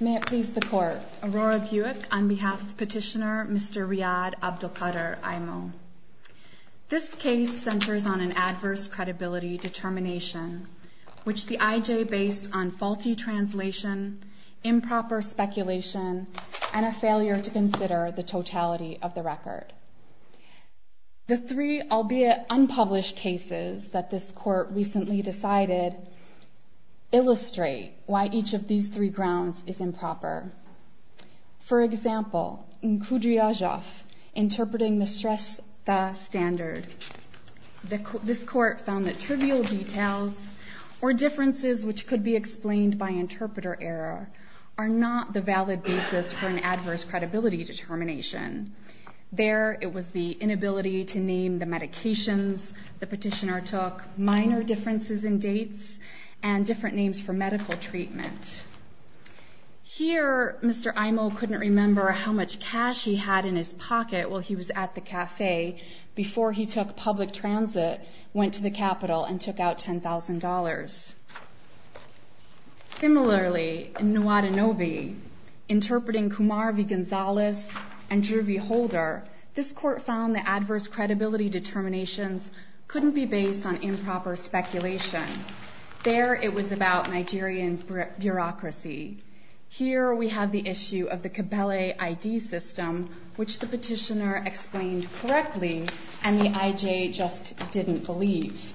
May it please the Court. Aurora Buick on behalf of Petitioner Mr. Riad Abdelkader Aymo. This case centers on an adverse credibility determination, which the IJ based on faulty translation, improper speculation, and a failure to consider the totality of the record. The three, albeit unpublished, cases that this Court recently decided illustrate why each of these three grounds is improper. For example, in Kudriazov, interpreting the Shrestha standard, this Court found that trivial details or differences, which could be explained by interpreter error, are not the valid basis for an adverse credibility determination. There, it was the inability to name the medications the petitioner took, minor differences in dates, and different names for medical treatment. Here, Mr. Aymo couldn't remember how much cash he had in his pocket while he was at the cafe before he took public transit, went to the Capitol, and took out $10,000. Similarly, in Nwadanobi, interpreting Kumar v. Gonzalez and Drew v. Holder, this Court found that adverse credibility determinations couldn't be based on improper speculation. There, it was about Nigerian bureaucracy. Here, we have the issue of the Kibele ID system, which the petitioner explained correctly, and the IJ just didn't believe.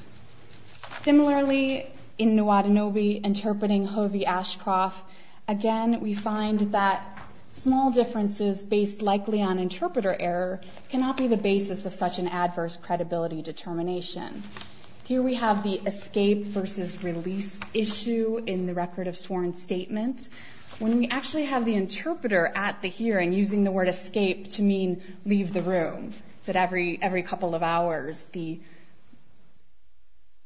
Similarly, in Nwadanobi, interpreting Hovey Ashcroft, again, we find that small differences based likely on interpreter error cannot be the basis of such an adverse credibility determination. Here, we have the escape versus release issue in the Record of Sworn Statements. When we actually have the interpreter at the hearing using the word escape to mean leave the room, it's at every couple of hours. The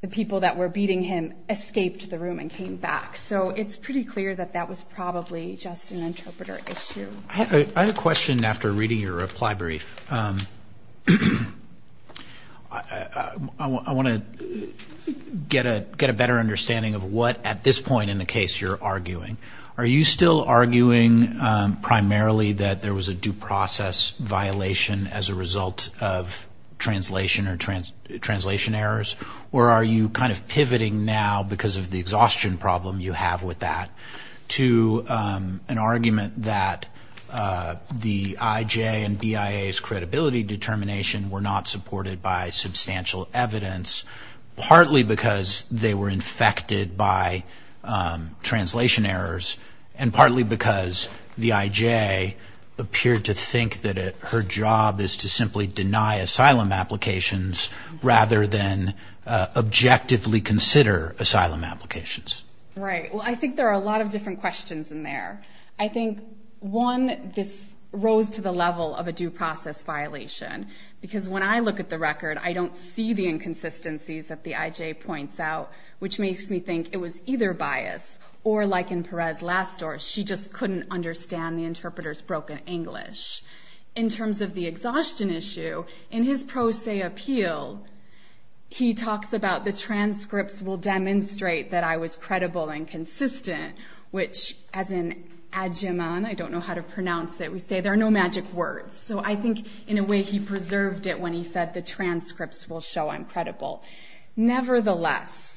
people that were beating him escaped the room and came back, so it's pretty clear that that was probably just an interpreter issue. I have a question after reading your reply brief. I want to get a better understanding of what, at this point in the case, you're arguing. Are you still arguing primarily that there was a due process violation as a result of translation or translation errors? Or are you kind of pivoting now, because of the exhaustion problem you have with that, to an argument that the IJ and BIA's credibility determination were not supported by substantial evidence, partly because they were infected by translation errors, and partly because the IJ appeared to think that her job is to simply deny asylum applications, rather than objectively consider asylum applications? Right. Well, I think there are a lot of different questions in there. I think, one, this rose to the level of a due process violation, because when I look at the record, I don't see the inconsistencies that the IJ points out, which makes me think it was either bias or, like in Perez's last story, she just couldn't understand the interpreter's broken English. In terms of the exhaustion issue, in his pro se appeal, he talks about the transcripts will demonstrate that I was credible and consistent, which, as in adjeman, I don't know how to pronounce it, we say there are no magic words. So I think, in a way, he preserved it when he said the transcripts will show I'm credible. Nevertheless,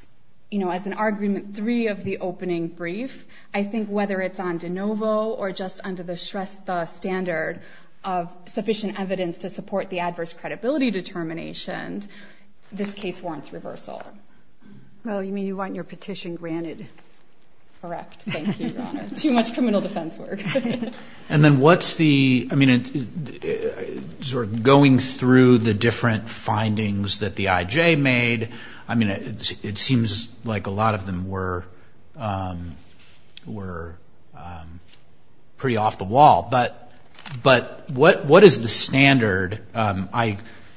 as an argument three of the opening brief, I think whether it's on de novo or just under the Shrestha standard, of sufficient evidence to support the adverse credibility determination, this case warrants reversal. Well, you mean you want your petition granted? Correct. Thank you, Your Honor. Too much criminal defense work. And then what's the, I mean, sort of going through the different findings that the IJ made, I mean, it seems like a lot of them were pretty off the wall. But what is the standard?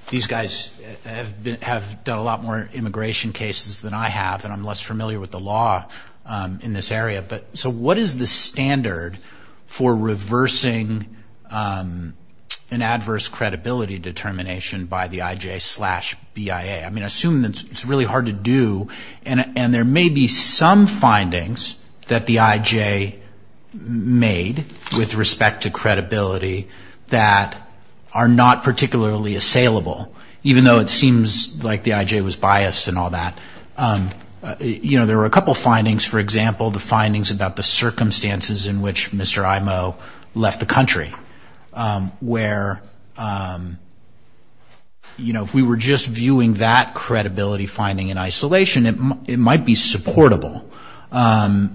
These guys have done a lot more immigration cases than I have, and I'm less familiar with the law in this area. So what is the standard for reversing an adverse credibility determination by the IJ slash BIA? I mean, I assume it's really hard to do. And there may be some findings that the IJ made with respect to credibility that are not particularly assailable, even though it seems like the IJ was biased and all that. You know, there were a couple findings, for example, the findings about the circumstances in which Mr. Imo left the country, where, you know, if we were just viewing that credibility finding in isolation, it might be that the IJ was biased. It might be supportable.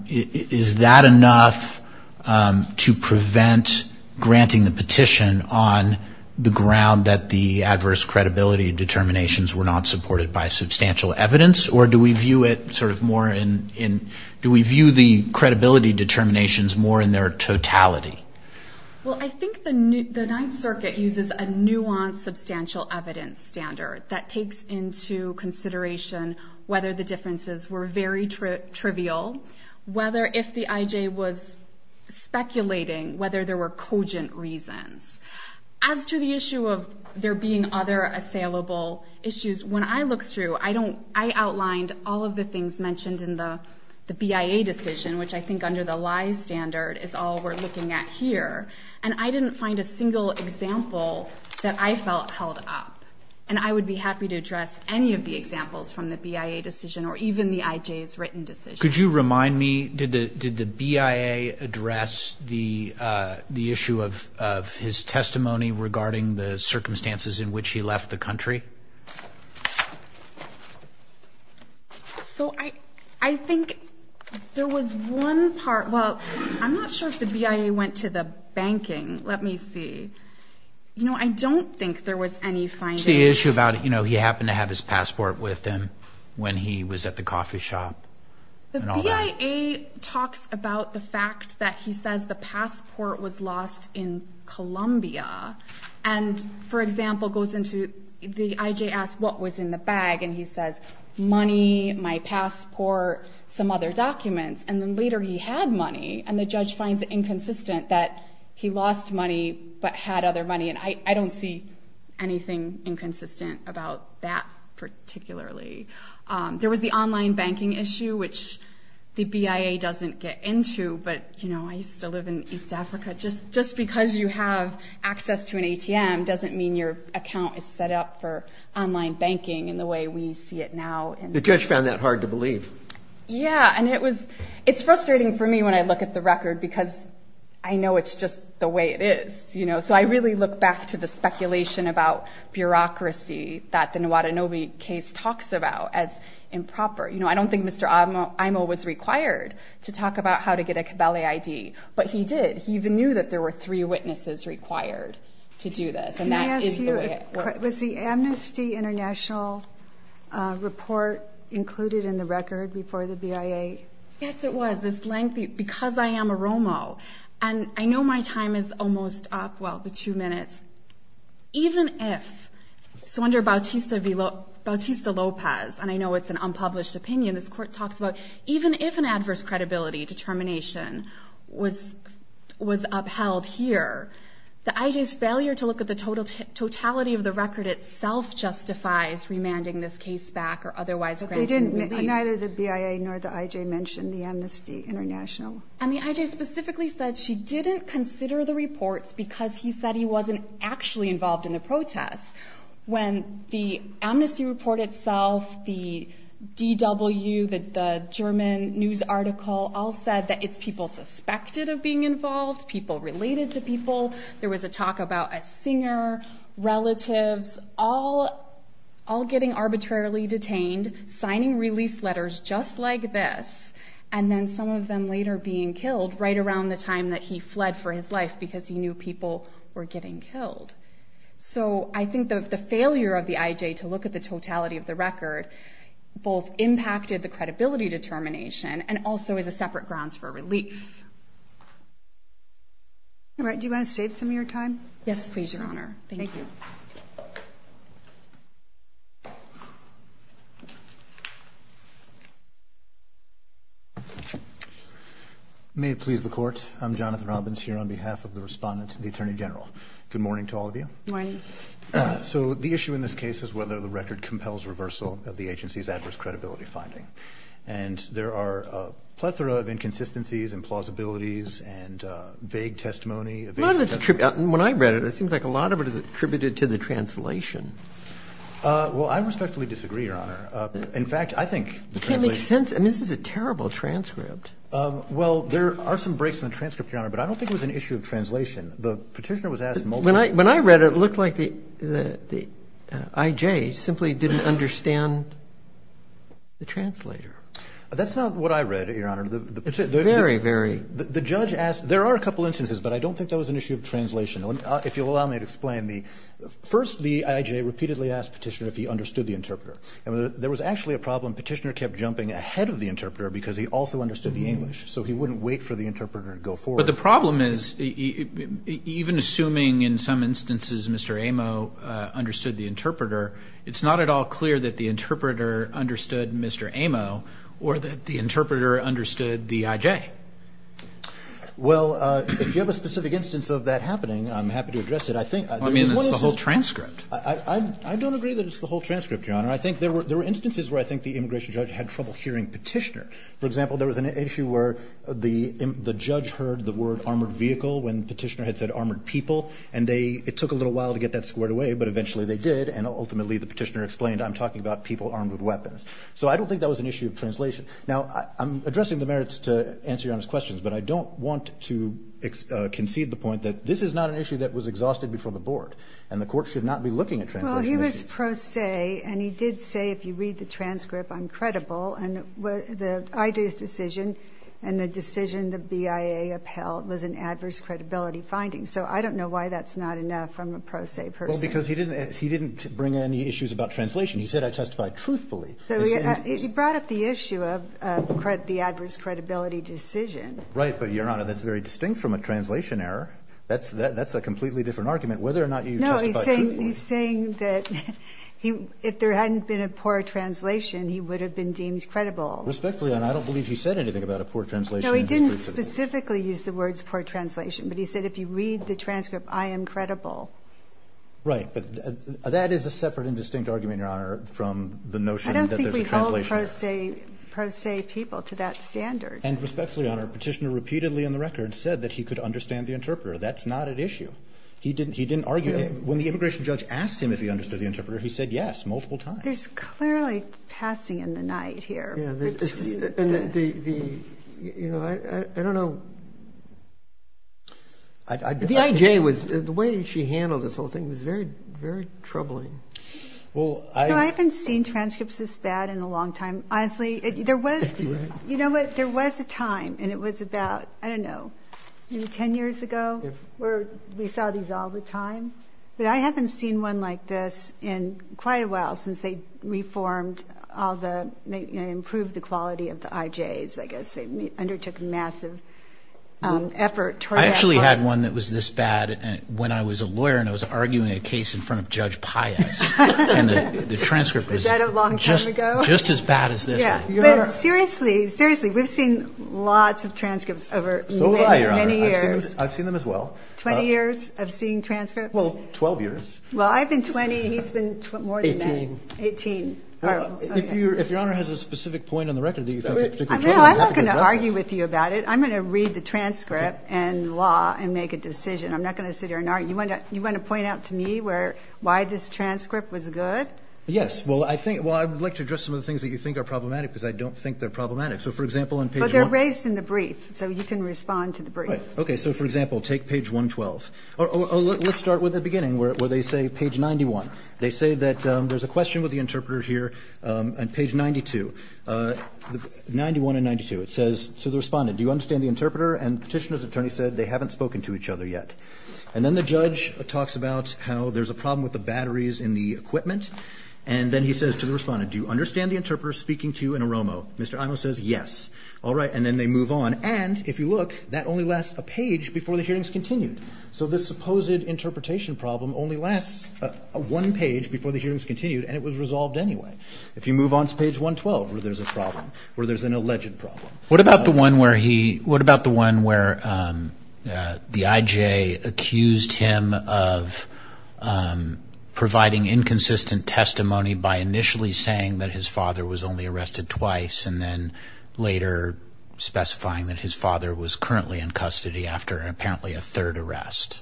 Is that enough to prevent granting the petition on the ground that the adverse credibility determinations were not supported by substantial evidence? Or do we view it sort of more in, do we view the credibility determinations more in their totality? Well, I think the Ninth Circuit uses a nuanced substantial evidence standard that takes into consideration whether the difference in credibility in the IJ and the BIA differences were very trivial, whether if the IJ was speculating, whether there were cogent reasons. As to the issue of there being other assailable issues, when I look through, I outlined all of the things mentioned in the BIA decision, which I think under the lie standard is all we're looking at here, and I didn't find a single example that I felt held up. And I would be happy to address any of the examples from the BIA decision or even the IJ's written decision. Could you remind me, did the BIA address the issue of his testimony regarding the circumstances in which he left the country? So I think there was one part, well, I'm not sure if the BIA went to the banking. Let me see. You know, I don't think there was any finding. To the issue about, you know, he happened to have his passport with him when he was at the coffee shop and all that. The BIA talks about the fact that he says the passport was lost in Colombia, and, for example, goes into, the IJ asks what was in the bag, and he says, money, my passport, some other documents. And then later he had money, and the judge finds it inconsistent that he lost money but had other money, and I don't see anything inconsistent about that particularly. There was the online banking issue, which the BIA doesn't get into, but, you know, I used to live in East Africa. Just because you have access to an ATM doesn't mean your account is set up for online banking in the way we see it now. It's frustrating for me when I look at the record because I know it's just the way it is, you know. So I really look back to the speculation about bureaucracy that the Nwadanobi case talks about as improper. You know, I don't think Mr. Aimo was required to talk about how to get a Cabelae ID, but he did. He even knew that there were three witnesses required to do this, and that is the way it works. Let me ask you, was the Amnesty International report included in the record before the BIA? Yes, it was, this lengthy, because I am a ROMO, and I know my time is almost up, well, the two minutes. Even if, so under Bautista-Lopez, and I know it's an unpublished opinion this court talks about, even if an adverse credibility determination was upheld here, the IJ's failure to look at the totality of the record itself justifies remanding this case back or otherwise granting relief. Neither the BIA nor the IJ mentioned the Amnesty International. And the IJ specifically said she didn't consider the reports because he said he wasn't actually involved in the protests. When the Amnesty report itself, the DW, the German news article, all said that it's people suspected of being involved, people related to people, there was a talk about a singer, relatives, all getting arbitrarily detained, signing release letters just like this, and then some of them later being killed right around the time that he fled for his life because he knew people were getting killed. So I think the failure of the IJ to look at the totality of the record both impacted the credibility determination, and also as a separate grounds for relief. All right, do you want to save some of your time? May it please the court, I'm Jonathan Robbins here on behalf of the respondent to the Attorney General. Good morning to all of you. Good morning. So the issue in this case is whether the record compels reversal of the agency's adverse credibility finding. And there are a plethora of inconsistencies and plausibilities and vague testimony. When I read it, it seems like a lot of it is attributed to the translation. Well, I respectfully disagree, Your Honor. In fact, I think... It can't make sense. I mean, this is a terrible transcript. Well, there are some breaks in the transcript, Your Honor, but I don't think it was an issue of translation. The petitioner was asked multiple... When I read it, it looked like the IJ simply didn't understand the translator. That's not what I read, Your Honor. Very, very... The judge asked... There are a couple instances, but I don't think that was an issue of translation. If you'll allow me to explain. First, the IJ repeatedly asked the petitioner if he understood the interpreter. There was actually a problem. The petitioner kept jumping ahead of the interpreter because he also understood the English. So he wouldn't wait for the interpreter to go forward. But the problem is, even assuming in some instances Mr. Amo understood the interpreter, it's not at all clear that the interpreter understood Mr. Amo or that the interpreter understood the IJ. Well, if you have a specific instance of that happening, I'm happy to address it. I mean, it's the whole transcript. I don't agree that it's the whole transcript, Your Honor. I think there were instances where I think the immigration judge had trouble hearing petitioner. For example, there was an issue where the judge heard the word, armored vehicle, when the petitioner had said, armored people, and it took a little while to get that squared away, but eventually they did, and ultimately the petitioner explained, I'm talking about people armed with weapons. So I don't think that was an issue of translation. Now, I'm addressing the merits to answer Your Honor's questions, but I don't want to concede the point that this is not an issue that was exhausted before the board, and the court should not be looking at translation issues. Well, he was pro se, and he did say, if you read the transcript, I'm credible. And the IJ's decision and the decision the BIA upheld was an adverse credibility finding. So I don't know why that's not enough from a pro se person. Well, because he didn't bring any issues about translation. He said, I testified truthfully. So he brought up the issue of the adverse credibility decision. Right, but Your Honor, that's very distinct from a translation error. That's a completely different argument, whether or not you testified truthfully. No, he's saying that if there hadn't been a poor translation, he would have been deemed credible. Respectfully, and I don't believe he said anything about a poor translation. No, he didn't specifically use the words poor translation, but he said, if you read the transcript, I am credible. Right, but that is a separate and distinct argument, Your Honor, from the notion that there's a translation error. I don't think we hold pro se people to that standard. And respectfully, Your Honor, Petitioner repeatedly on the record said that he could understand the interpreter. That's not at issue. He didn't argue. When the immigration judge asked him if he understood the interpreter, he said yes multiple times. There's clearly passing in the night here. And the, you know, I don't know. The IJ was, the way she handled this whole thing was very, very troubling. No, I haven't seen transcripts this bad in a long time. Honestly, there was, you know what, there was a time, and it was about, I don't know, maybe 10 years ago, where we saw these all the time. But I haven't seen one like this in quite a while since they reformed all the, improved the quality of the IJs, I guess. They undertook a massive effort. I actually had one that was this bad when I was a lawyer and I was arguing a case in front of Judge Pius, and the transcript was just as bad as this one. But seriously, seriously, we've seen lots of transcripts over many years. So have I, Your Honor. I've seen them as well. 20 years of seeing transcripts? Well, 12 years. Well, I've been 20. He's been more than that. 18. 18. If Your Honor has a specific point on the record, do you have a particular point? No, I'm not going to argue with you about it. I'm going to read the transcript and law and make a decision. I'm not going to sit here and argue. You want to point out to me where, why this transcript was good? Yes. Well, I think, well, I would like to address some of the things that you think are problematic because I don't think they're problematic. So, for example, on page 1. But they're raised in the brief. So you can respond to the brief. Right. Okay. So, for example, take page 112. Let's start with the beginning where they say page 91. They say that there's a question with the interpreter here on page 92. 91 and 92. It says to the respondent, do you understand the interpreter? And the Petitioner's attorney said they haven't spoken to each other yet. And then the judge talks about how there's a problem with the batteries in the equipment. And then he says to the respondent, do you understand the interpreter speaking to an AROMO? Mr. Imo says yes. All right. And then they move on. And, if you look, that only lasts a page before the hearing's continued. So this supposed interpretation problem only lasts one page before the hearing's continued, and it was resolved anyway. If you move on to page 112 where there's a problem, where there's an alleged problem. What about the one where he, what about the one where the IJ accused him of providing inconsistent testimony by initially saying that his father was only arrested twice, and then later specifying that his father was currently in custody after apparently a third arrest?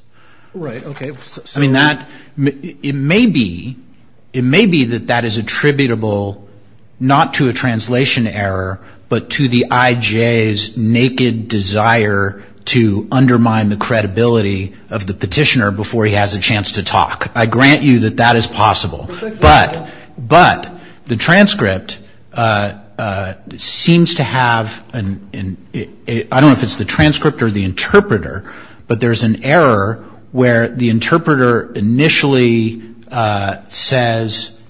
Right. Okay. I mean, that, it may be, it may be that that is attributable not to a IJ's naked desire to undermine the credibility of the petitioner before he has a chance to talk. I grant you that that is possible. But, but the transcript seems to have, I don't know if it's the transcript or the interpreter, but there's an error where the interpreter initially says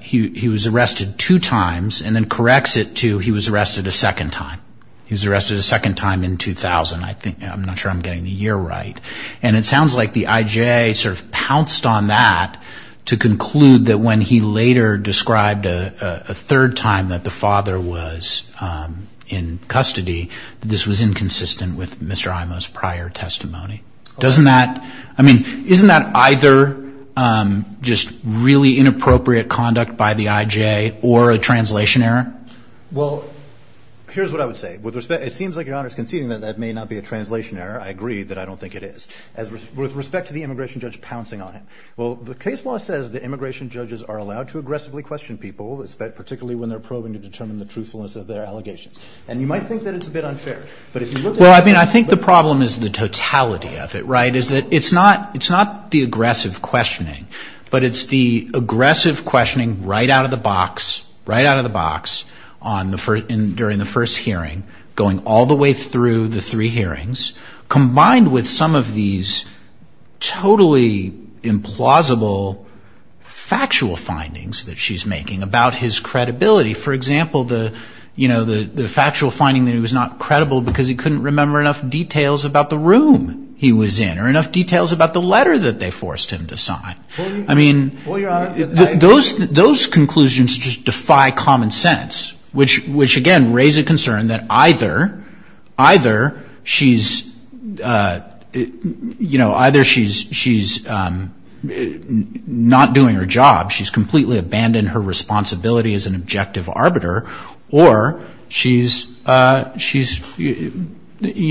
he was arrested two times and then corrects it to he was arrested a second time in 2000. I think, I'm not sure I'm getting the year right. And it sounds like the IJ sort of pounced on that to conclude that when he later described a third time that the father was in custody, this was inconsistent with Mr. Imo's prior testimony. Doesn't that, I mean, isn't that either just really inappropriate conduct by the IJ or a translation error? Well, here's what I would say. With respect, it seems like Your Honor is conceding that that may not be a translation error. I agree that I don't think it is. With respect to the immigration judge pouncing on him. Well, the case law says that immigration judges are allowed to aggressively question people, particularly when they're probing to determine the truthfulness of their allegations. And you might think that it's a bit unfair. But if you look at it. Well, I mean, I think the problem is the totality of it, right, is that it's not, it's not the aggressive questioning. But it's the aggressive questioning right out of the box, right out of the box, on the first, during the first hearing, going all the way through the three hearings, combined with some of these totally implausible factual findings that she's making about his credibility. For example, the, you know, the factual finding that he was not credible because he couldn't remember enough details about the room he was in or enough details about the letter that they forced him to sign. Well, Your Honor. Those conclusions just defy common sense, which, again, raise a concern that either she's, you know, either she's not doing her job, she's completely abandoned her responsibility as an objective arbiter, or she's, you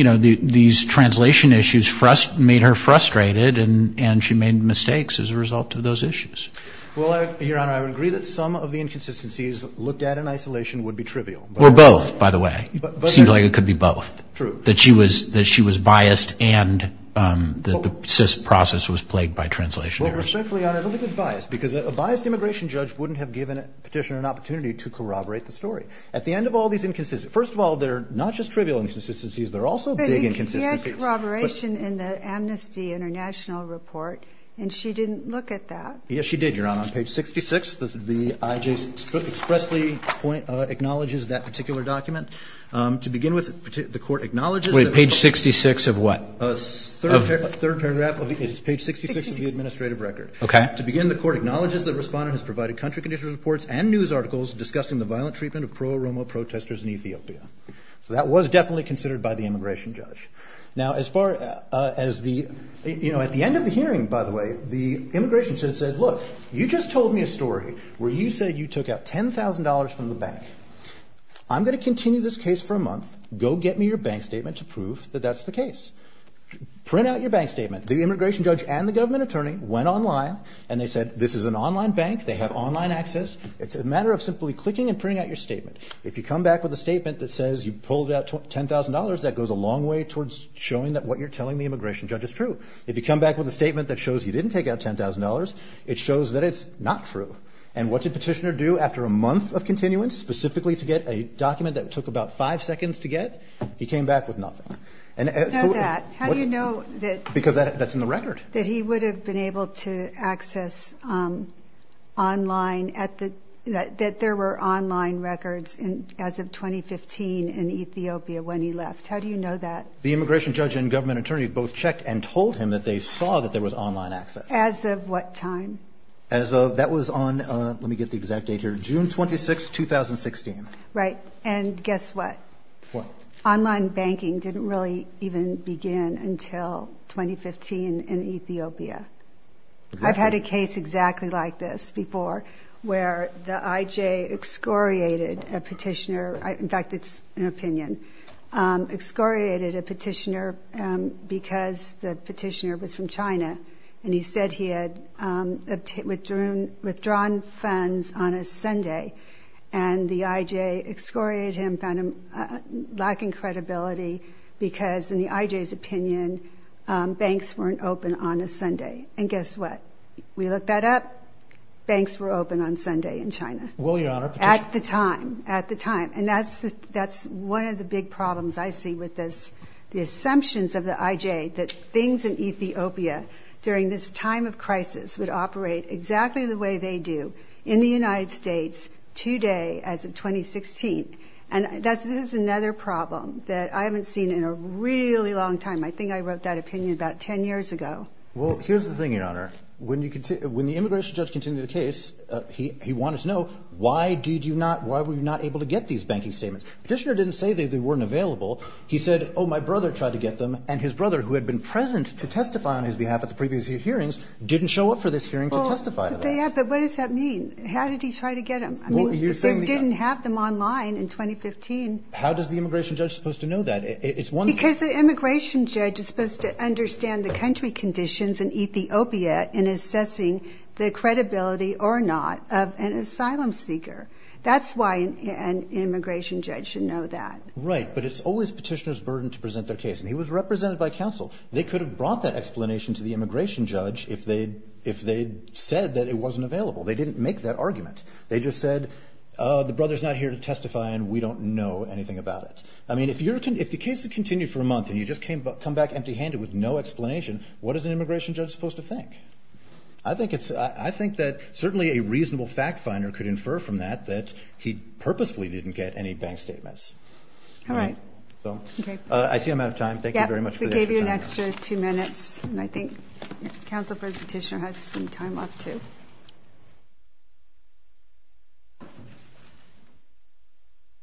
know, these translation issues made her frustrated and she made mistakes as a result of those issues. Well, Your Honor, I would agree that some of the inconsistencies looked at in isolation would be trivial. Or both, by the way. It seems like it could be both. True. That she was biased and that the process was plagued by translation errors. Well, respectfully, Your Honor, I don't think it's biased, because a biased immigration judge wouldn't have given a petitioner an opportunity to corroborate the story. At the end of all these inconsistencies, first of all, they're not just trivial inconsistencies, they're also big inconsistencies. There was a corroboration in the Amnesty International report, and she didn't look at that. Yes, she did, Your Honor. On page 66, the I.J. expressly acknowledges that particular document. To begin with, the court acknowledges that... Wait. Page 66 of what? Third paragraph. It's page 66 of the administrative record. Okay. To begin, the court acknowledges that the respondent has provided country condition reports and news articles discussing the violent treatment of pro-Roma protesters in Ethiopia. So that was definitely considered by the immigration judge. Now, as far as the end of the hearing, by the way, the immigration judge said, look, you just told me a story where you said you took out $10,000 from the bank. I'm going to continue this case for a month. Go get me your bank statement to prove that that's the case. Print out your bank statement. The immigration judge and the government attorney went online, and they said this is an online bank, they have online access. It's a matter of simply clicking and printing out your statement. If you come back with a statement that says you pulled out $10,000, that goes a long way towards showing that what you're telling the immigration judge is true. If you come back with a statement that shows you didn't take out $10,000, it shows that it's not true. And what did Petitioner do after a month of continuance, specifically to get a document that took about five seconds to get? He came back with nothing. How do you know that? Because that's in the record. That he would have been able to access online, that there were online records as of 2015 in Ethiopia when he left. How do you know that? The immigration judge and government attorney both checked and told him that they saw that there was online access. As of what time? As of, that was on, let me get the exact date here, June 26, 2016. Right, and guess what? What? Online banking didn't really even begin until 2015 in Ethiopia. I've had a case exactly like this before where the IJ excoriated a Petitioner, in fact it's an opinion, excoriated a Petitioner because the Petitioner was from China and he said he had withdrawn funds on a Sunday and the IJ excoriated him, found him lacking credibility because in the IJ's opinion banks weren't open on a Sunday. And guess what? We looked that up, banks were open on Sunday in China. At the time, at the time. And that's one of the big problems I see with this, the assumptions of the IJ that things in Ethiopia during this time of crisis would operate exactly the way they do in the United States today as of 2016. And this is another problem that I haven't seen in a really long time. I think I wrote that opinion about 10 years ago. Well, here's the thing, Your Honor. When the immigration judge continued the case, he wanted to know why did you not, why were you not able to get these banking statements. Petitioner didn't say they weren't available. He said, oh, my brother tried to get them and his brother who had been present to testify on his behalf at the previous hearings didn't show up for this hearing to testify to that. But what does that mean? How did he try to get them? They didn't have them online in 2015. How does the immigration judge supposed to know that? Because the immigration judge is supposed to understand the country conditions in Ethiopia in assessing the credibility or not of an asylum seeker. That's why an immigration judge should know that. Right. But it's always petitioner's burden to present their case. And he was represented by counsel. They could have brought that explanation to the immigration judge if they said that it wasn't available. They didn't make that argument. They just said, oh, the brother's not here to testify and we don't know anything about it. I mean, if the case had continued for a month and you just came back empty handed with no explanation, what is an immigration judge supposed to think? I think that certainly a reasonable fact finder could infer from that that he purposefully didn't get any bank statements. All right. I see I'm out of time. Thank you very much for the extra time. We gave you an extra two minutes. And I think counsel for the petitioner has some time left, too.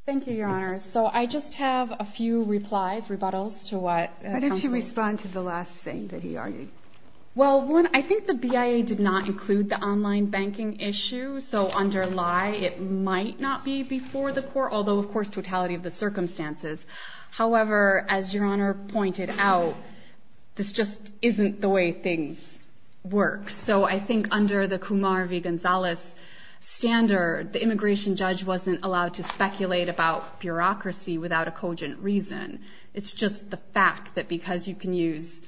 Thank you, Your Honor. So I just have a few replies, rebuttals to what counsel. How did you respond to the last thing that he argued? Well, one, I think the BIA did not include the online banking issue. So under lie, it might not be before the court, although, of course, totality of the circumstances. However, as Your Honor pointed out, this just isn't the way things work. So I think under the Kumar v. Gonzalez standard, the immigration judge wasn't allowed to speculate about bureaucracy without a cogent reason. It's just the fact that because you can use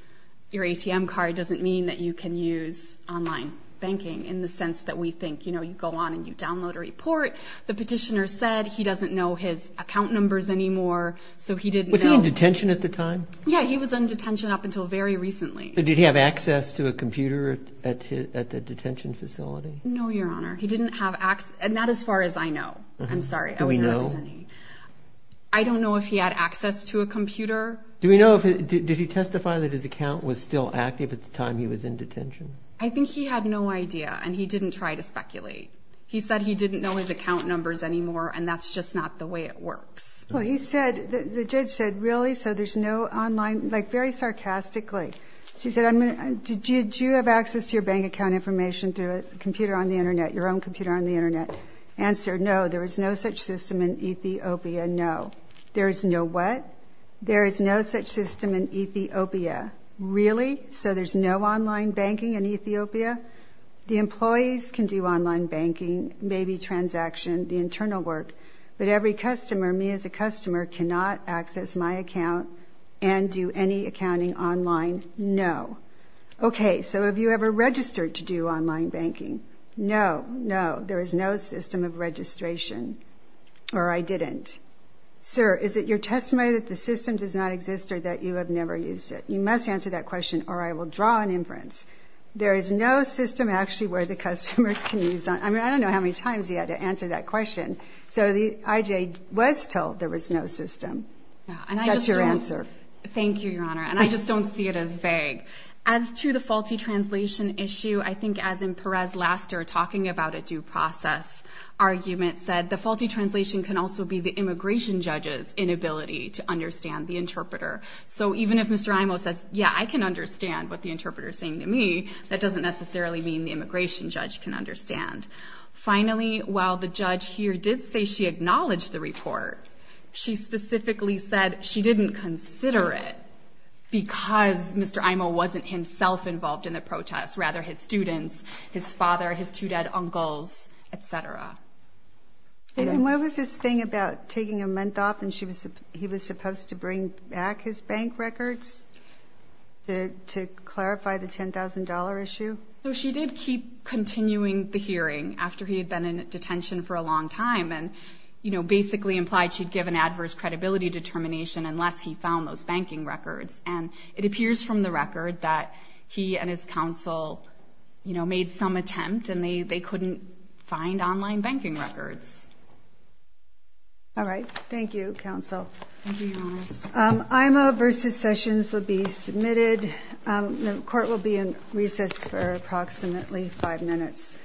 your ATM card doesn't mean that you can use online banking in the sense that we think, you know, you go on and you download a report. The petitioner said he doesn't know his account numbers anymore, so he didn't know. Was he in detention at the time? Yeah, he was in detention up until very recently. But did he have access to a computer at the detention facility? No, Your Honor. He didn't have access. Not as far as I know. I'm sorry. I wasn't representing. Do we know? I don't know if he had access to a computer. Do we know? Did he testify that his account was still active at the time he was in detention? I think he had no idea, and he didn't try to speculate. He said he didn't know his account numbers anymore, and that's just not the way it works. Well, he said, the judge said, really, so there's no online, like, very sarcastically. She said, did you have access to your bank account information through a computer on the Internet, your own computer on the Internet? Answer, no, there was no such system in Ethiopia. No. There is no what? There is no such system in Ethiopia. Really? So there's no online banking in Ethiopia? The employees can do online banking, maybe transaction, the internal work, but every customer, me as a customer, cannot access my account and do any accounting online. No. Okay, so have you ever registered to do online banking? No. No, there is no system of registration. Or I didn't. Sir, is it your testimony that the system does not exist or that you have never used it? You must answer that question, or I will draw an inference. There is no system, actually, where the customers can use it. I mean, I don't know how many times you had to answer that question. So the IJ was told there was no system. That's your answer. Thank you, Your Honor, and I just don't see it as vague. As to the faulty translation issue, I think as in Perez Laster talking about a due process argument said, the faulty translation can also be the immigration judge's inability to understand the interpreter. So even if Mr. Imo says, yeah, I can understand what the interpreter is saying to me, that doesn't necessarily mean the immigration judge can understand. Finally, while the judge here did say she acknowledged the report, she specifically said she didn't consider it because Mr. Imo wasn't himself involved in the protest, rather his students, his father, his two dead uncles, et cetera. And what was his thing about taking a month off and he was supposed to bring back his bank records to clarify the $10,000 issue? No, she did keep continuing the hearing after he had been in detention for a long time and basically implied she'd given adverse credibility determination unless he found those banking records. And it appears from the record that he and his counsel made some attempt and they couldn't find online banking records. All right. Thank you, counsel. Thank you, Your Honor. Imo v. Sessions will be submitted. The court will be in recess for approximately five minutes.